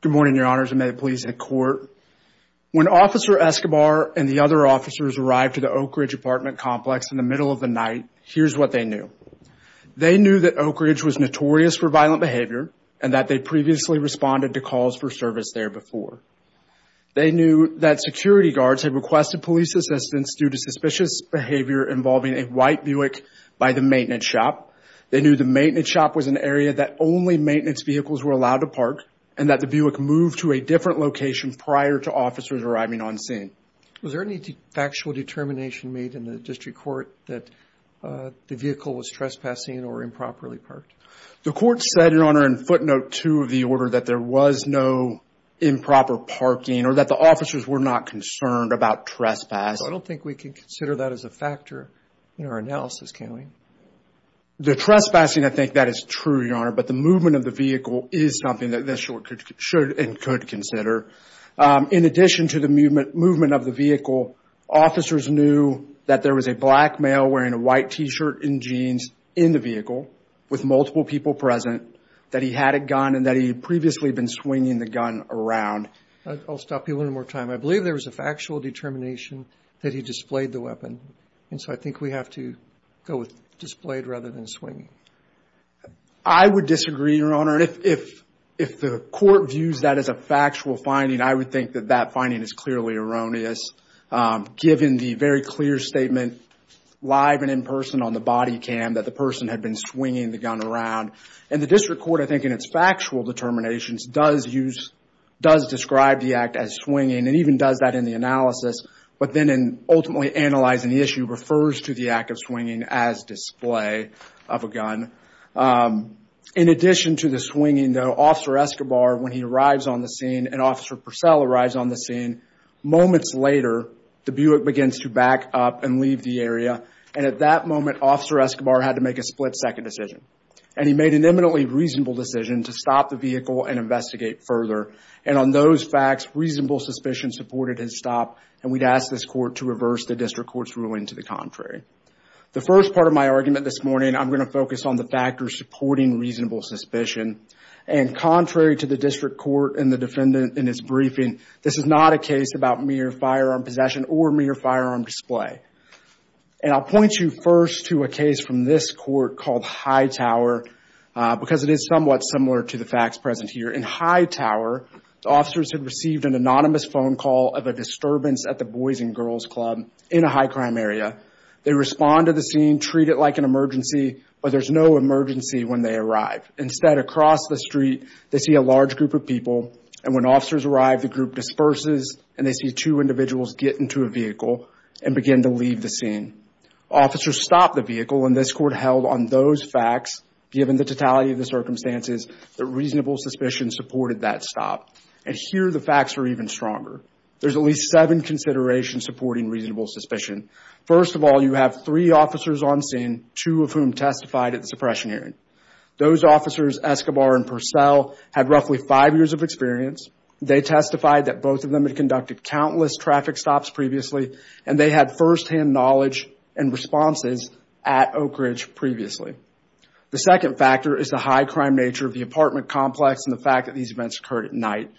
Good morning, your honors. I made a police in court. When officer Escobar and the other officers arrived to the Oak Ridge apartment complex in the middle of the night, here's what they knew. They knew that Oak Ridge was notorious for violent behavior and that they previously responded to calls for service there before. They knew that security guards had requested police assistance due to suspicious behavior involving a white Buick by the maintenance shop. They knew the maintenance shop was an area that only maintenance vehicles were allowed to park and that the Buick moved to a different location prior to officers arriving on scene. Was there any factual determination made in the district court that the vehicle was trespassing or improperly parked? The court said, your honor, in footnote two of the order, that there was no improper parking or that the officers were not concerned about trespass. I don't think we can consider that as a factor in our analysis, can we? The trespassing, I think that is true, your honor, but the movement of the vehicle is something that this court should and could consider. In addition to the movement of the vehicle, officers knew that there was a black male wearing a white T-shirt and jeans in the vehicle with multiple people present, that he had a gun and that he had previously been swinging the gun around. I'll stop you one more time. I believe there was a factual determination that he displayed the weapon, and so I think we have to go with displayed rather than swinging. I would disagree, your honor, and if the court views that as a factual finding, I would think that that finding is clearly erroneous, given the very clear statement live and in person on the body cam that the person had been swinging the gun around. And the district court, I think in its factual determinations, does use, does even does that in the analysis, but then in ultimately analyzing the issue, refers to the act of swinging as display of a gun. In addition to the swinging, though, Officer Escobar, when he arrives on the scene and Officer Purcell arrives on the scene, moments later, the Buick begins to back up and leave the area. And at that moment, Officer Escobar had to make a split second decision. And he made an eminently reasonable decision to stop the vehicle and supported his stop. And we'd ask this court to reverse the district court's ruling to the contrary. The first part of my argument this morning, I'm going to focus on the factors supporting reasonable suspicion. And contrary to the district court and the defendant in his briefing, this is not a case about mere firearm possession or mere firearm display. And I'll point you first to a case from this court called Hightower, because it is somewhat similar to the facts present here. In Hightower, the officers had received an anonymous phone call of a disturbance at the Boys and Girls Club in a high crime area. They respond to the scene, treat it like an emergency, but there's no emergency when they arrive. Instead, across the street, they see a large group of people. And when officers arrive, the group disperses and they see two individuals get into a vehicle and begin to leave the scene. Officers stop the vehicle and this court held on those facts, given the totality of the suspicions supported that stop. And here, the facts are even stronger. There's at least seven considerations supporting reasonable suspicion. First of all, you have three officers on scene, two of whom testified at the suppression hearing. Those officers, Escobar and Purcell, had roughly five years of experience. They testified that both of them had conducted countless traffic stops previously, and they had firsthand knowledge and responses at Oak Ridge previously. The second factor is the high crime nature of the apartment complex and the fact that these events occurred at night.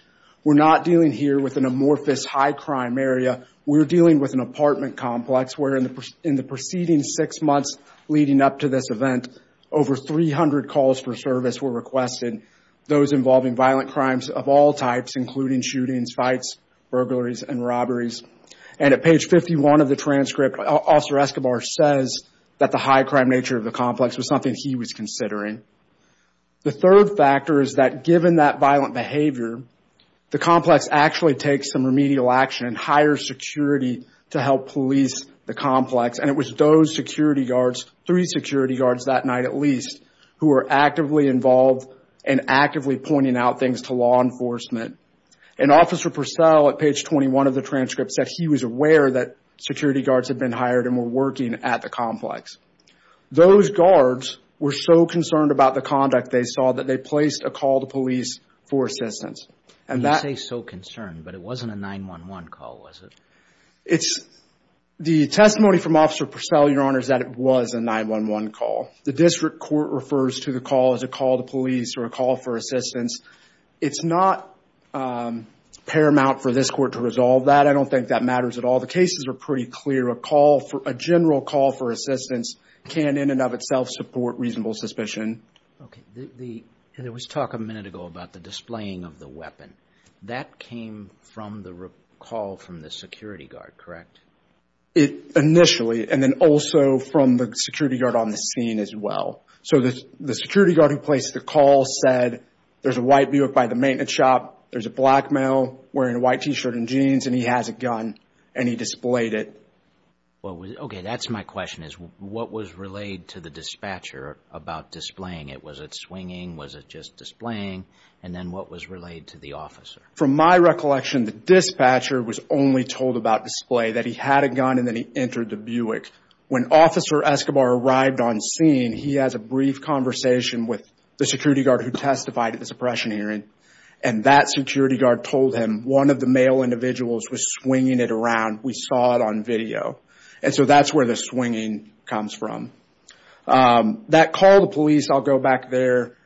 We're not dealing here with an amorphous high crime area. We're dealing with an apartment complex where in the preceding six months leading up to this event, over 300 calls for service were requested. Those involving violent crimes of all types, including shootings, fights, burglaries and robberies. And at page 51 of the transcript, Officer Escobar says that the high crime nature of the complex was something he was considering. The third factor is that given that violent behavior, the complex actually takes some remedial action and hires security to help police the complex. And it was those security guards, three security guards that night at least, who were actively involved and actively pointing out things to law enforcement. And Officer Purcell at page 21 of the transcript said he was aware that security guards had been hired and were working at the complex. Those guards were so concerned about the conduct they saw that they placed a call to police for assistance. You say so concerned, but it wasn't a 911 call, was it? It's the testimony from Officer Purcell, Your Honor, is that it was a 911 call. The district court refers to the call as a call to police or a call for assistance. It's not paramount for this court to resolve that. I don't think that matters at all. The cases are pretty clear. A call for a general call for assistance can in and of itself support reasonable suspicion. OK. And there was talk a minute ago about the displaying of the weapon. That came from the call from the security guard, correct? It initially and then also from the security guard on the scene as well. So the security guard who placed the call said there's a white Buick by the maintenance shop. There's a black male wearing a white T-shirt and jeans and he has a gun and he was. OK, that's my question is what was relayed to the dispatcher about displaying it? Was it swinging? Was it just displaying? And then what was relayed to the officer? From my recollection, the dispatcher was only told about display that he had a gun and then he entered the Buick. When Officer Escobar arrived on scene, he has a brief conversation with the security guard who testified at the suppression hearing. And that security guard told him one of the male individuals was swinging it around. We saw it on video. And so that's where the swinging comes from. That call to police, I'll go back there,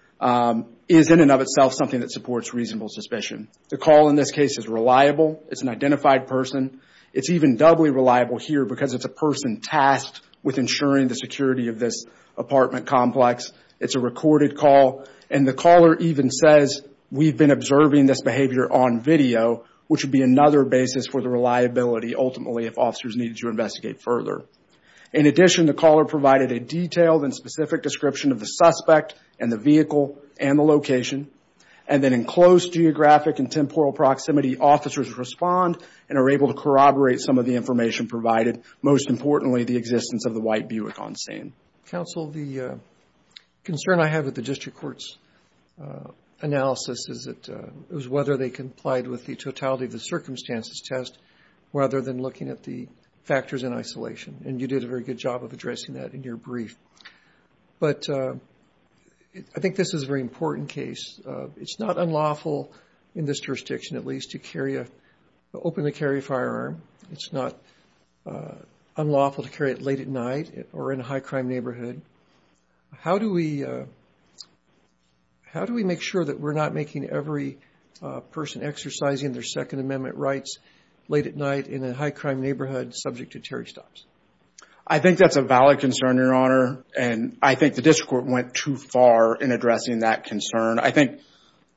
is in and of itself something that supports reasonable suspicion. The call in this case is reliable. It's an identified person. It's even doubly reliable here because it's a person tasked with ensuring the security of this apartment complex. It's a recorded call. And the caller even says we've been observing this behavior on video, which would be another basis for the reliability, ultimately, if officers needed to investigate further. In addition, the caller provided a detailed and specific description of the suspect and the vehicle and the location. And then in close geographic and temporal proximity, officers respond and are able to corroborate some of the information provided. Most importantly, the existence of the white Buick on scene. Counsel, the concern I have with the district court's analysis is whether they complied with the totality of the circumstances test, rather than looking at the factors in isolation. And you did a very good job of addressing that in your brief. But I think this is a very important case. It's not unlawful in this jurisdiction, at least, to open the carry firearm. It's not unlawful to carry it late at night or in a high crime neighborhood. How do we make sure that we're not making every person exercising their Second Amendment rights late at night in a high crime neighborhood subject to Terry stops? I think that's a valid concern, Your Honor. And I think the district court went too far in addressing that concern. I think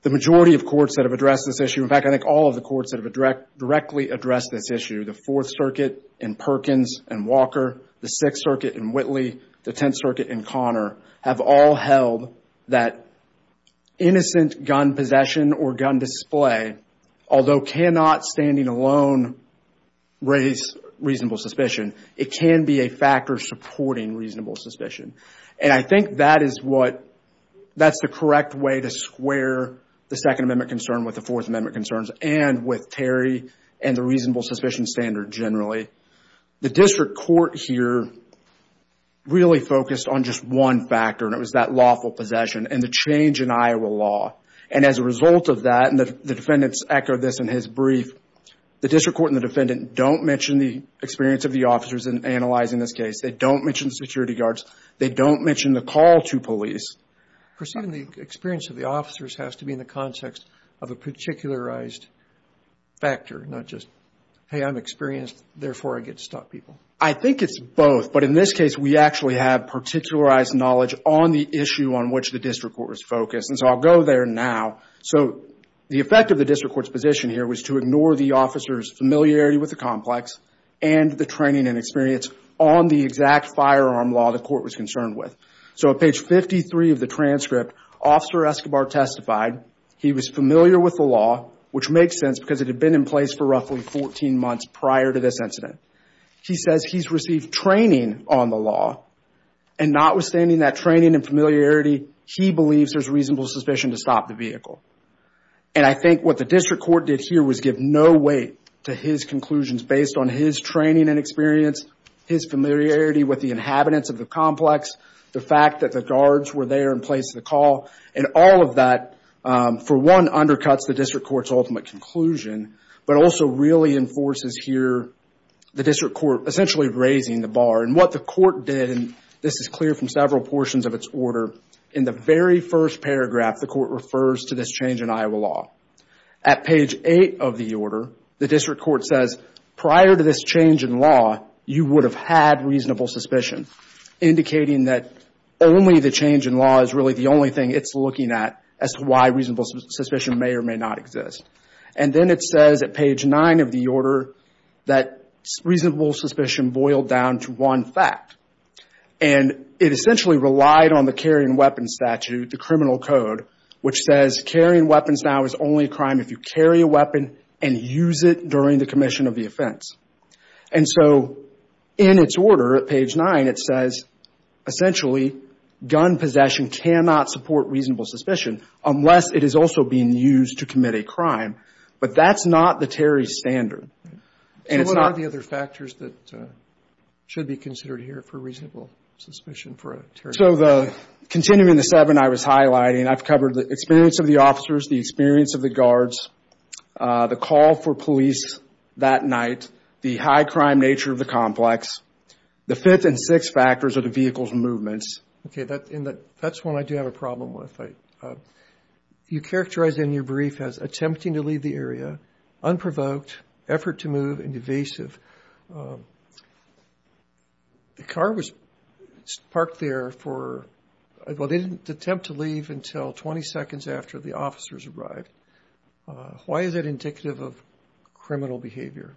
the majority of courts that have addressed this issue, in fact, I think all of the courts that have directly addressed this issue, the Fourth Circuit in Perkins and Walker, the Sixth Circuit in Whitley, the Tenth Circuit in Connor, have all held that innocent gun possession or gun display, although cannot standing alone raise reasonable suspicion. It can be a factor supporting reasonable suspicion. And I think that is what that's the correct way to square the Second Amendment concern with the Fourth Amendment concerns and with Terry and the reasonable suspicion standard generally. The district court here really focused on just one factor, and it was that lawful possession and the change in Iowa law. And as a result of that, and the defendants echo this in his brief, the district court and the defendant don't mention the experience of the officers in analyzing this case. They don't mention the security guards. They don't mention the call to police. Perceiving the experience of the officers has to be in the context of a particularized factor, not just, hey, I'm experienced, therefore I get to stop people. I think it's both. But in this case, we actually have particularized knowledge on the issue on which the district court was focused. And so I'll go there now. So the effect of the district court's position here was to ignore the officer's familiarity with the complex and the training and experience on the exact firearm law the court was concerned with. So at page 53 of the transcript, Officer Escobar testified he was familiar with the law, which makes sense because it had been in place for roughly 14 months prior to this incident. He says he's received training on the law and notwithstanding that training and familiarity, he believes there's reasonable suspicion to stop the vehicle. And I think what the district court did here was give no weight to his conclusions based on his training and experience, his familiarity with the inhabitants of the complex, the district court's ultimate conclusion, but also really enforces here the district court essentially raising the bar. And what the court did, and this is clear from several portions of its order, in the very first paragraph, the court refers to this change in Iowa law. At page 8 of the order, the district court says prior to this change in law, you would have had reasonable suspicion, indicating that only the change in law is really the reason it may or may not exist. And then it says at page 9 of the order that reasonable suspicion boiled down to one fact, and it essentially relied on the carrying weapons statute, the criminal code, which says carrying weapons now is only a crime if you carry a weapon and use it during the commission of the offense. And so in its order at page 9, it says essentially gun possession cannot support reasonable suspicion unless it is also being used to commit a crime, but that's not the Terry standard. And it's not... So what are the other factors that should be considered here for reasonable suspicion for a Terry standard? So continuing the seven I was highlighting, I've covered the experience of the officers, the experience of the guards, the call for police that night, the high crime nature of the complex. The fifth and sixth factors are the vehicle's movements. OK, that's one I do have a problem with. You characterize in your brief as attempting to leave the area, unprovoked, effort to move and evasive. The car was parked there for, well, they didn't attempt to leave until 20 seconds after the officers arrived. Why is that indicative of criminal behavior?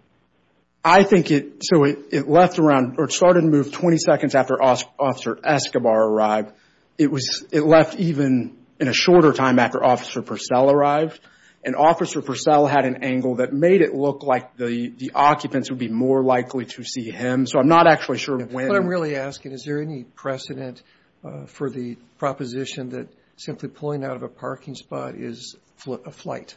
I think it, so it left around, or it started to move 20 seconds after Officer Escobar arrived. It was, it left even in a shorter time after Officer Purcell arrived. And Officer Purcell had an angle that made it look like the occupants would be more likely to see him. So I'm not actually sure when. What I'm really asking, is there any precedent for the proposition that simply pulling out of a parking spot is a flight?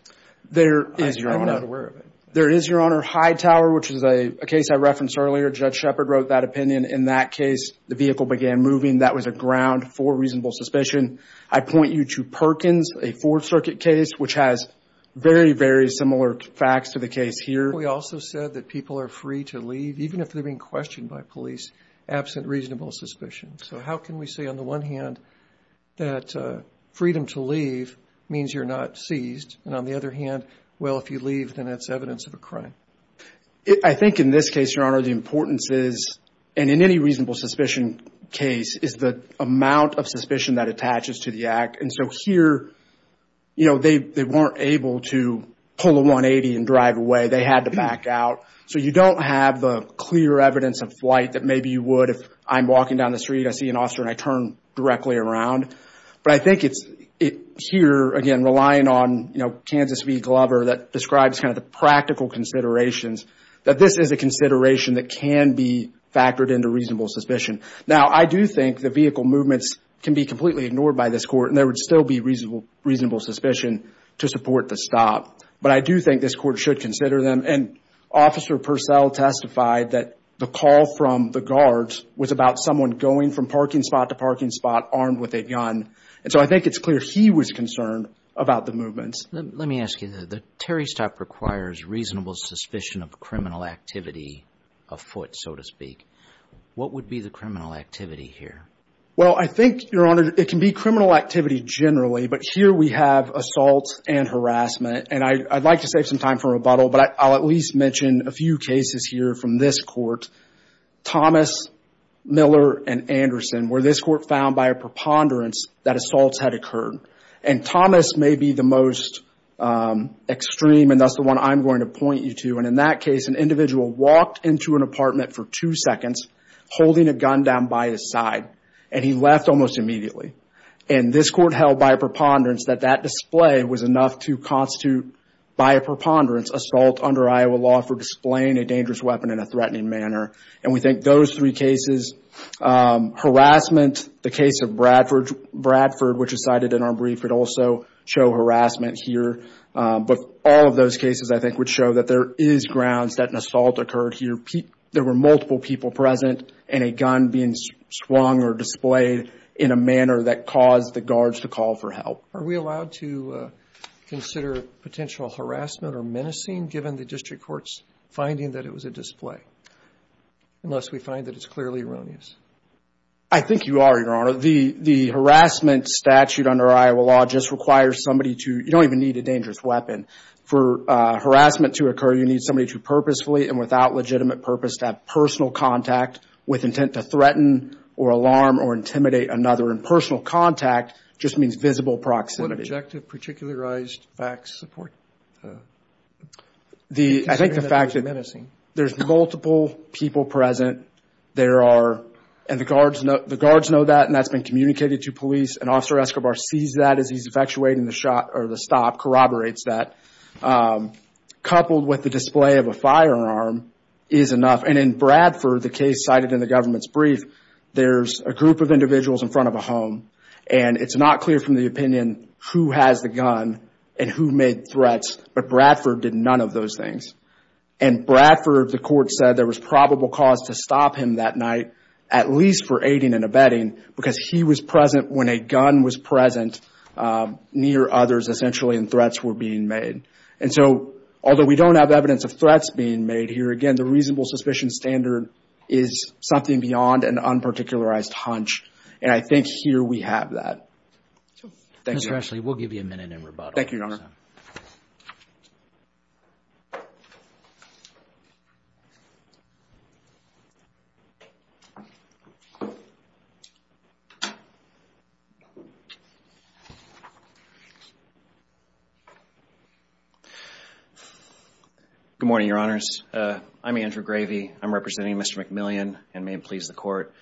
There is, Your Honor. I'm not aware of it. There is, Your Honor, Hightower, which is a case I referenced earlier. Judge Shepard wrote that opinion. In that case, the vehicle began moving. That was a ground for reasonable suspicion. I point you to Perkins, a Fourth Circuit case, which has very, very similar facts to the case here. We also said that people are free to leave, even if they're being questioned by police, absent reasonable suspicion. So how can we say, on the one hand, that freedom to leave means you're not seized? And on the other hand, well, if you leave, then it's evidence of a crime. I think in this case, Your Honor, the importance is, and in any reasonable suspicion case, is the amount of suspicion that attaches to the act. And so here, you know, they weren't able to pull a 180 and drive away. They had to back out. So you don't have the clear evidence of flight that maybe you would if I'm walking down the street, I see an officer and I turn directly around. But I think it's here, again, relying on, you know, Kansas v. Glover that describes kind of the practical considerations, that this is a consideration that can be factored into reasonable suspicion. Now, I do think the vehicle movements can be completely ignored by this court and there would still be reasonable suspicion to support the stop. But I do think this court should consider them. And Officer Purcell testified that the call from the guards was about someone going from And so I think it's clear he was concerned about the movements. Let me ask you, the Terry stop requires reasonable suspicion of criminal activity afoot, so to speak. What would be the criminal activity here? Well, I think, Your Honor, it can be criminal activity generally. But here we have assault and harassment. And I'd like to save some time for rebuttal, but I'll at least mention a few cases here from this court, Thomas, Miller and Anderson, where this court found by a preponderance that assaults had occurred. And Thomas may be the most extreme and that's the one I'm going to point you to. And in that case, an individual walked into an apartment for two seconds holding a gun down by his side and he left almost immediately. And this court held by a preponderance that that display was enough to constitute, by a manner. And we think those three cases, harassment, the case of Bradford, which is cited in our brief, would also show harassment here. But all of those cases, I think, would show that there is grounds that an assault occurred here. There were multiple people present and a gun being swung or displayed in a manner that caused the guards to call for help. Are we allowed to consider potential harassment or menacing given the district court's finding that it was a display? Unless we find that it's clearly erroneous. I think you are, Your Honor. The harassment statute under Iowa law just requires somebody to, you don't even need a dangerous weapon for harassment to occur. You need somebody to purposefully and without legitimate purpose to have personal contact with intent to threaten or alarm or intimidate another. And personal contact just means visible proximity. What objective, particularized facts support? I think the fact that there's multiple people present, there are, and the guards know that and that's been communicated to police. An officer escrobar sees that as he's effectuating the shot or the stop, corroborates that. Coupled with the display of a firearm is enough. And in Bradford, the case cited in the government's brief, there's a group of individuals in front of a home and it's not clear from the opinion who has the gun and who made the threats, but Bradford did none of those things. And Bradford, the court said, there was probable cause to stop him that night, at least for aiding and abetting, because he was present when a gun was present near others essentially and threats were being made. And so, although we don't have evidence of threats being made here, again, the reasonable suspicion standard is something beyond an unparticularized hunch. And I think here we have that. Mr. Ashley, we'll give you a minute in rebuttal. Thank you, Your Honor. Good morning, Your Honors. I'm Andrew Gravey. I'm representing Mr. McMillian and may it please the court.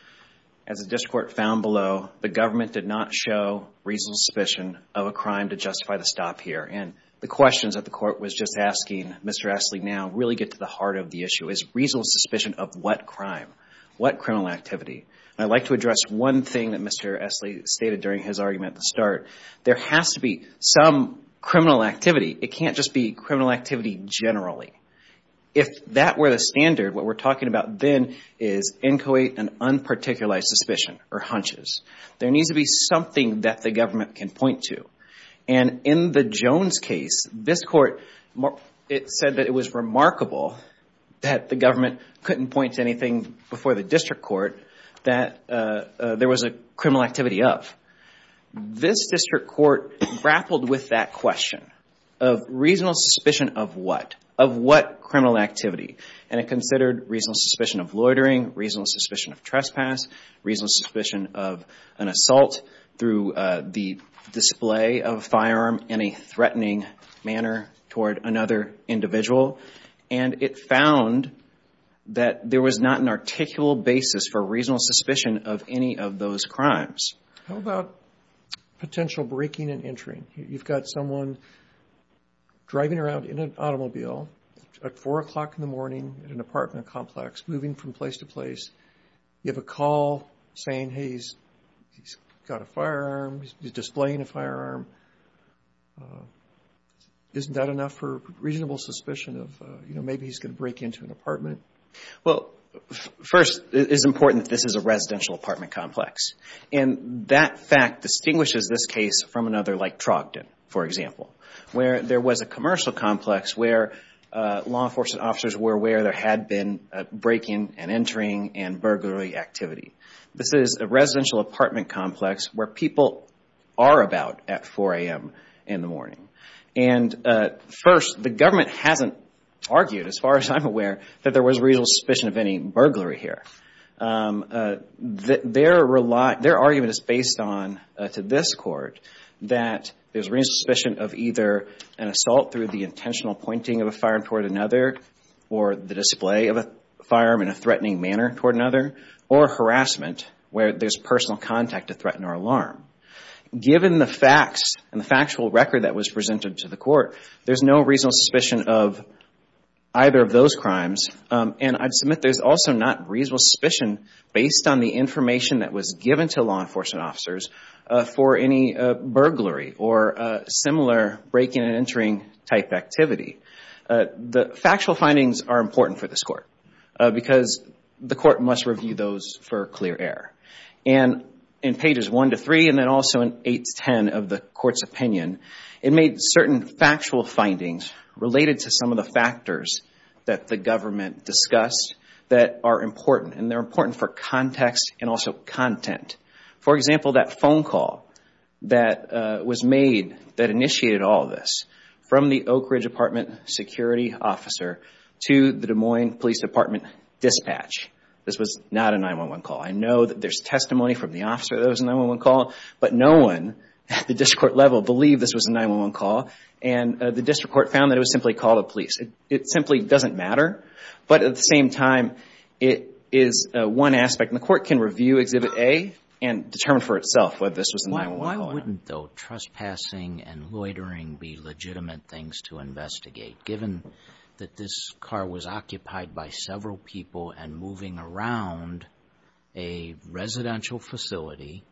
As the district court found below, the government did not show reasonable suspicion of a crime to justify the stop here. And the questions that the court was just asking Mr. Ashley now really get to the heart of the issue is reasonable suspicion of what crime, what criminal activity. I'd like to address one thing that Mr. Ashley stated during his argument at the start. There has to be some criminal activity. It can't just be criminal activity generally. If that were the standard, what we're talking about then is inchoate and unparticularized suspicion or hunches. There needs to be something that the government can point to. And in the Jones case, this court, it said that it was remarkable that the government couldn't point to anything before the district court that there was a criminal activity of. This district court grappled with that question of reasonable suspicion of what? Of what criminal activity? And it considered reasonable suspicion of loitering, reasonable suspicion of trespass, reasonable suspicion of an assault through the display of a firearm in a threatening manner toward another individual. And it found that there was not an articulable basis for reasonable suspicion of any of those crimes. How about potential breaking and entering? You've got someone driving around in an automobile at four o'clock in the morning in an apartment complex moving from place to place. You have a call saying, hey, he's got a firearm, he's displaying a firearm. Isn't that enough for reasonable suspicion of, you know, maybe he's going to break into an apartment? Well, first, it is important that this is a residential apartment complex. And that fact distinguishes this case from another like Trogdon, for example, where there was a commercial complex where law enforcement officers were aware there had been breaking and burglary activity. This is a residential apartment complex where people are about at four a.m. in the morning. And first, the government hasn't argued, as far as I'm aware, that there was reasonable suspicion of any burglary here. Their argument is based on, to this court, that there's reasonable suspicion of either an assault through the intentional pointing of a firearm toward another or the display of a firearm in a way or another, or harassment where there's personal contact to threaten or alarm. Given the facts and the factual record that was presented to the court, there's no reasonable suspicion of either of those crimes. And I'd submit there's also not reasonable suspicion based on the information that was given to law enforcement officers for any burglary or similar breaking and entering type activity. The factual findings are important for this court because the court must review those for clear error. And in pages one to three, and then also in eight to ten of the court's opinion, it made certain factual findings related to some of the factors that the government discussed that are important. And they're important for context and also content. For example, that phone call that was made that initiated all this from the Oak Ridge Department security officer to the Des Moines Police Department dispatch. This was not a 911 call. I know that there's testimony from the officer that it was a 911 call, but no one at the district court level believed this was a 911 call. And the district court found that it was simply a call to police. It simply doesn't matter. But at the same time, it is one aspect. And the court can review Exhibit A and determine for itself whether this was a 911 call or not. Why wouldn't, though, trespassing and loitering be legitimate things to investigate? Given that this car was occupied by several people and moving around a residential facility,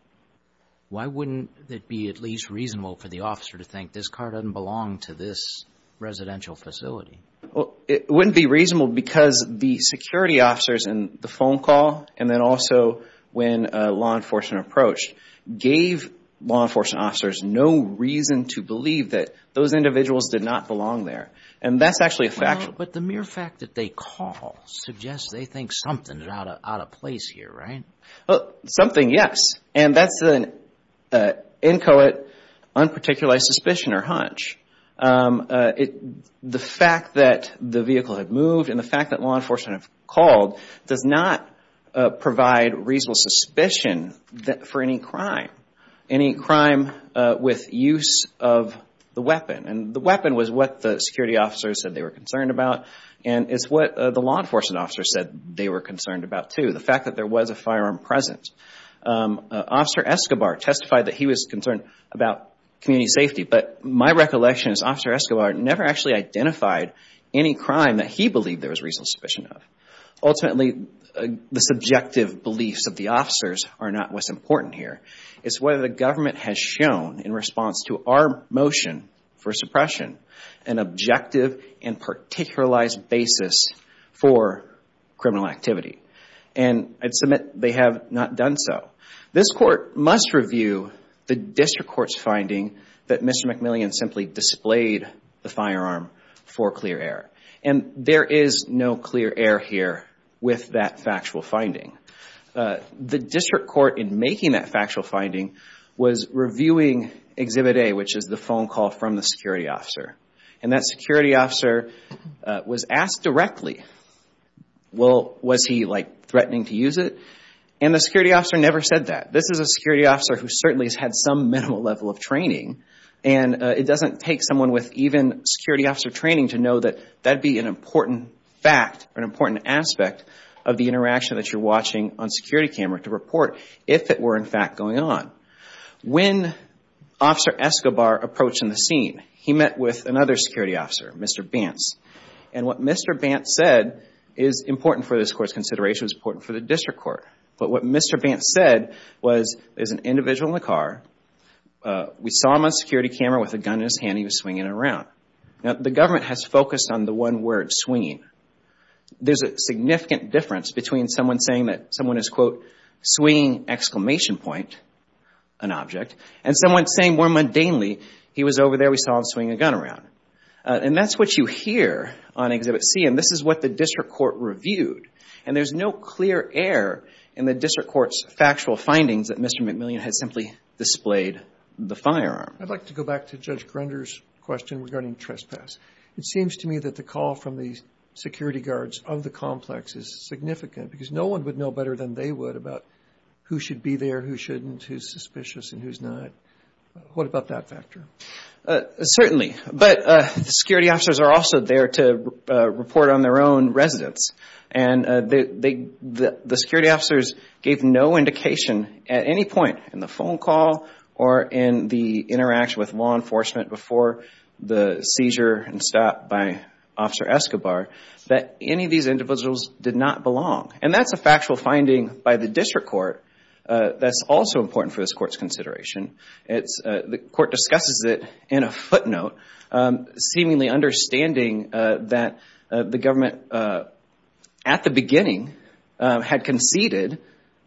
why wouldn't it be at least reasonable for the officer to think this car doesn't belong to this residential facility? Well, it wouldn't be reasonable because the security officers in the phone call and then also when law enforcement approached, gave law enforcement officers no reason to believe that those individuals did not belong there. And that's actually a fact. But the mere fact that they call suggests they think something is out of place here, right? Well, something, yes. And that's an inchoate, unparticulated suspicion or hunch. The fact that the vehicle had moved and the fact that law enforcement had called does not provide reasonable suspicion for any crime, any crime with use of the weapon. And the weapon was what the security officers said they were concerned about. And it's what the law enforcement officers said they were concerned about, too, the fact that there was a firearm present. Officer Escobar testified that he was concerned about community safety. But my recollection is Officer Escobar never actually identified any crime that he believed there was reasonable suspicion of. Ultimately, the subjective beliefs of the officers are not what's important here. It's whether the government has shown, in response to our motion for suppression, an objective and particularized basis for criminal activity. And I'd submit they have not done so. This court must review the district court's finding that Mr. McMillian simply displayed the firearm for clear air. And there is no clear air here with that factual finding. The district court, in making that factual finding, was reviewing Exhibit A, which is the phone call from the security officer. And that security officer was asked directly, well, was he, like, threatening to use it? And the security officer never said that. This is a security officer who certainly has had some minimal level of training. And it doesn't take someone with even security officer training to know that that'd be an important fact or an important aspect of the interaction that you're watching on security camera to report if it were, in fact, going on. When Officer Escobar approached in the scene, he met with another security officer, Mr. Bantz. And what Mr. Bantz said is important for this court's consideration, was important for the district court. But what Mr. Bantz said was, there's an individual in the car. We saw him on security camera with a gun in his hand. He was swinging it around. Now, the government has focused on the one word, swinging. There's a significant difference between someone saying that someone is, quote, swinging exclamation point, an object, and someone saying more mundanely, he was over there, we saw him swing a gun around. And that's what you hear on Exhibit C. And this is what the district court reviewed. And there's no clear error in the district court's factual findings that Mr. McMillian had simply displayed the firearm. I'd like to go back to Judge Grunder's question regarding trespass. It seems to me that the call from the security guards of the complex is significant because no one would know better than they would about who should be there, who shouldn't, who's suspicious, and who's not. What about that factor? Certainly. But the security officers are also there to report on their own residence. And the security officers gave no indication at any point in the phone call or in the interaction with law enforcement before the seizure and stop by Officer Escobar that any of these individuals did not belong. And that's a factual finding by the district court that's also important for this court's consideration. The court discusses it in a footnote, seemingly understanding that the government at the beginning had conceded,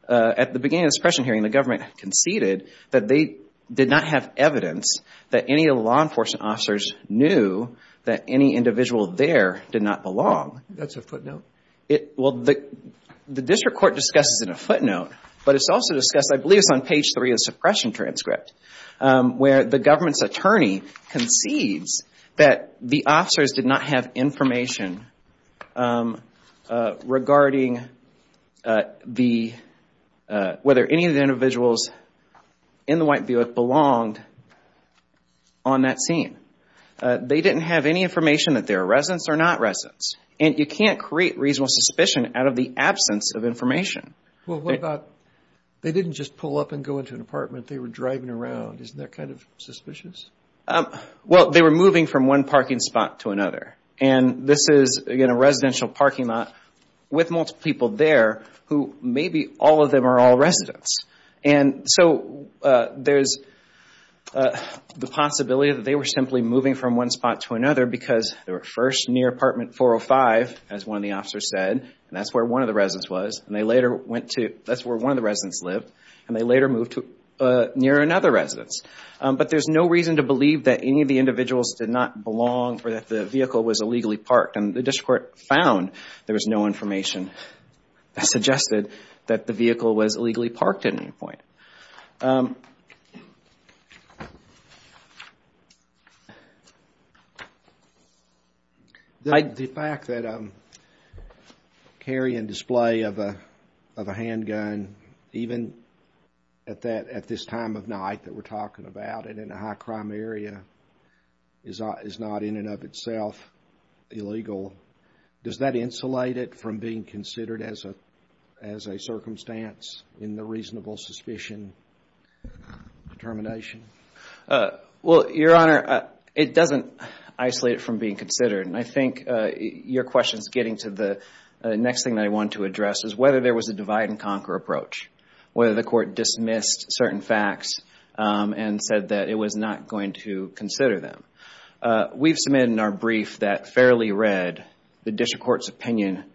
at the beginning of the suppression hearing, the government conceded that they did not have evidence that any of the law enforcement officers knew that any individual there did not belong. That's a footnote. Well, the district court discusses it in a footnote, but it's also discussed, I believe it's on page three of the suppression transcript, where the government's did not have information regarding whether any of the individuals in the white violet belonged on that scene. They didn't have any information that they were residents or not residents. And you can't create reasonable suspicion out of the absence of information. Well, what about, they didn't just pull up and go into an apartment. Isn't that kind of suspicious? Well, they were moving from one parking spot to another. And this is, again, a residential parking lot with multiple people there who maybe all of them are all residents. And so there's the possibility that they were simply moving from one spot to another because they were first near apartment 405, as one of the officers said, and that's where one of the residents was. And they later went to, that's where one of the residents lived. And they later moved to near another residence. But there's no reason to believe that any of the individuals did not belong or that the vehicle was illegally parked. And the district court found there was no information that suggested that the vehicle was illegally parked at any point. The fact that carry and display of a handgun, even at that, at this time of night that we're talking about and in a high crime area, is not in and of itself illegal. Does that insulate it from being considered as a circumstance in the reasonable suspicion determination? Well, Your Honor, it doesn't isolate it from being considered. And I think your question is getting to the next thing that I want to address is whether there was a divide and conquer approach. Whether the court dismissed certain facts and said that it was not going to consider them. We've submitted in our brief that fairly read, the district court's opinion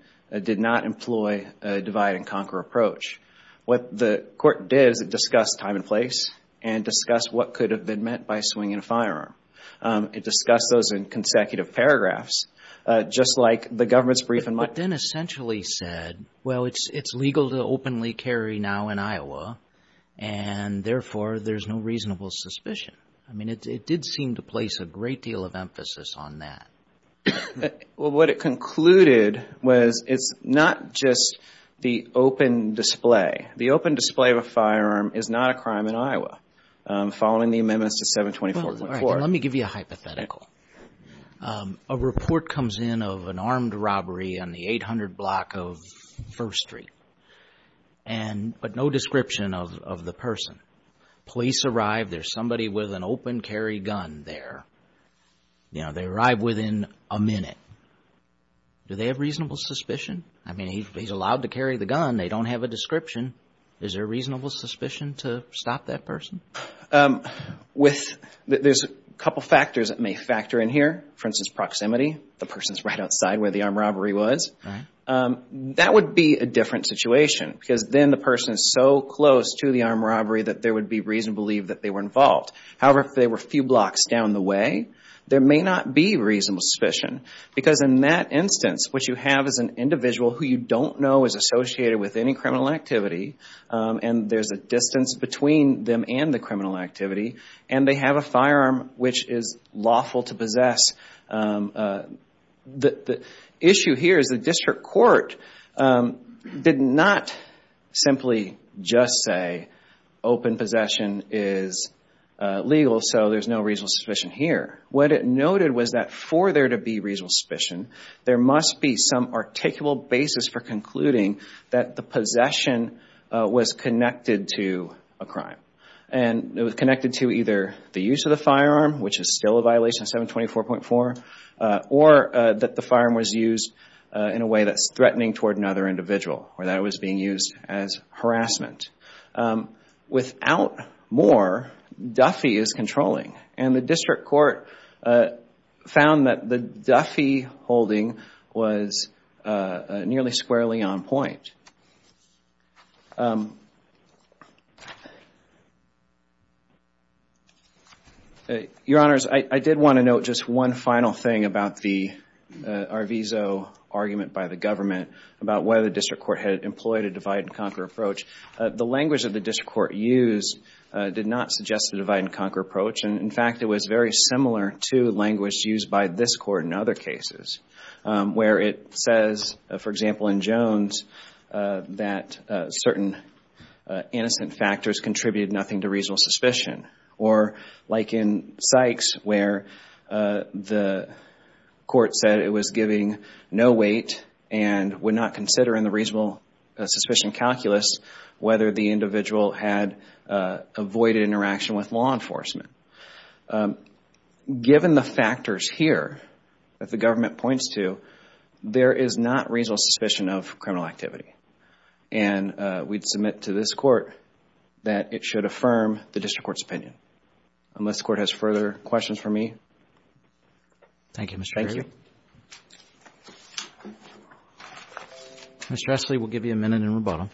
did not employ a divide and conquer approach. What the court did is it discussed time and place and discussed what could have been meant by swinging a firearm. It discussed those in consecutive paragraphs, just like the government's brief in Well, it's legal to openly carry now in Iowa. And therefore, there's no reasonable suspicion. I mean, it did seem to place a great deal of emphasis on that. Well, what it concluded was it's not just the open display. The open display of a firearm is not a crime in Iowa. Following the amendments to 724.4. Let me give you a hypothetical. A report comes in of an armed robbery on the 800 block of First Street. And but no description of the person. Police arrive. There's somebody with an open carry gun there. You know, they arrive within a minute. Do they have reasonable suspicion? I mean, he's allowed to carry the gun. They don't have a description. Is there reasonable suspicion to stop that person? With there's a couple of factors that may factor in here, for instance, proximity. The person's right outside where the armed robbery was. That would be a different situation because then the person is so close to the armed robbery that there would be reason to believe that they were involved. However, if they were a few blocks down the way, there may not be reasonable suspicion because in that instance, what you have is an individual who you don't know is associated with any criminal activity. And there's a distance between them and the criminal activity. And they have a firearm, which is lawful to possess. The issue here is the district court did not simply just say open possession is legal, so there's no reasonable suspicion here. What it noted was that for there to be reasonable suspicion, there must be some articulable basis for concluding that the possession was connected to a crime. And it was connected to either the use of the firearm, which is still a violation of 724.4, or that the firearm was used in a way that's threatening toward another individual, or that it was being used as harassment. Without more, Duffy is controlling. And the district court found that the Duffy holding was nearly squarely on point. Your Honors, I did want to note just one final thing about the Arvizo argument by the government about whether the district court had employed a divide and conquer approach. The language that the district court used did not suggest a divide and conquer approach, and in fact, it was very similar to language used by this court in other cases, where it says, for example, in Jones, that certain innocent factors contributed nothing to reasonable suspicion. Or like in Sykes, where the court said it was giving no weight and would not consider in the reasonable suspicion calculus whether the individual had avoided interaction with law enforcement. Given the factors here that the government points to, there is not reasonable suspicion of criminal activity. And we'd submit to this court that it should affirm the district court's opinion. Unless the court has further questions for me. Thank you, Mr. Gregory. Thank you, Your Honor.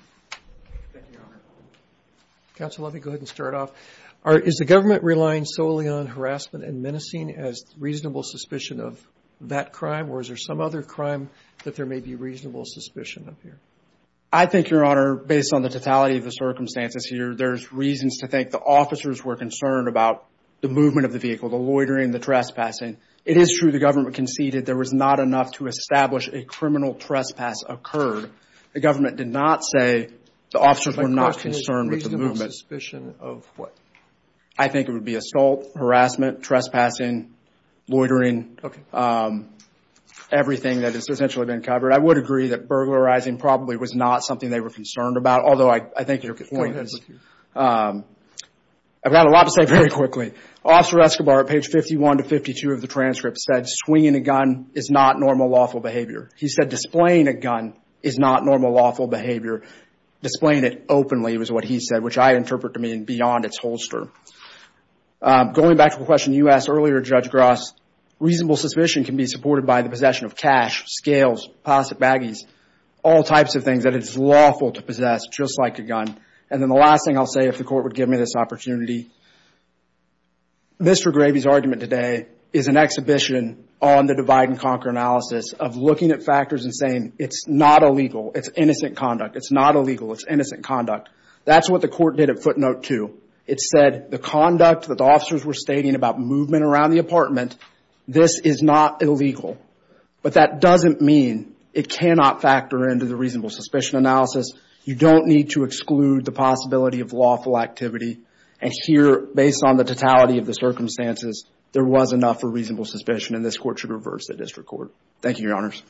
Counsel Levy, go ahead and start off. Is the government relying solely on harassment and menacing as reasonable suspicion of that crime, or is there some other crime that there may be reasonable suspicion of here? I think, Your Honor, based on the totality of the circumstances here, there's reasons to think the officers were concerned about the movement of the vehicle, the loitering, the trespassing. It is true the government conceded there was not enough to establish a criminal trespass occurred. The government did not say the officers were not concerned with the movement. Reasonable suspicion of what? I think it would be assault, harassment, trespassing, loitering, everything that has essentially been covered. I would agree that burglarizing probably was not something they were concerned about, although I think your point is, I've got a lot to say very quickly. Officer Escobar, at page 51 to 52 of the transcript, said swinging a gun is not normal lawful behavior. He said displaying a gun is not normal lawful behavior. Displaying it openly was what he said, which I interpret to mean beyond its holster. Going back to the question you asked earlier, Judge Gross, reasonable suspicion can be supported by the possession of cash, scales, pocket baggies, all types of things that it's lawful to possess, just like a gun. And then the last thing I'll say, if the court would give me this opportunity, Mr. Gravey's argument today is an exhibition on the divide and conquer analysis of looking at factors and saying, it's not illegal, it's innocent conduct. It's not illegal, it's innocent conduct. That's what the court did at footnote two. It said the conduct that the officers were stating about movement around the apartment, this is not illegal, but that doesn't mean it cannot factor into the reasonable suspicion analysis. You don't need to exclude the possibility of lawful activity. And here, based on the totality of the circumstances, there was enough for reasonable suspicion and this court should reverse the district court. Thank you, Your Honors.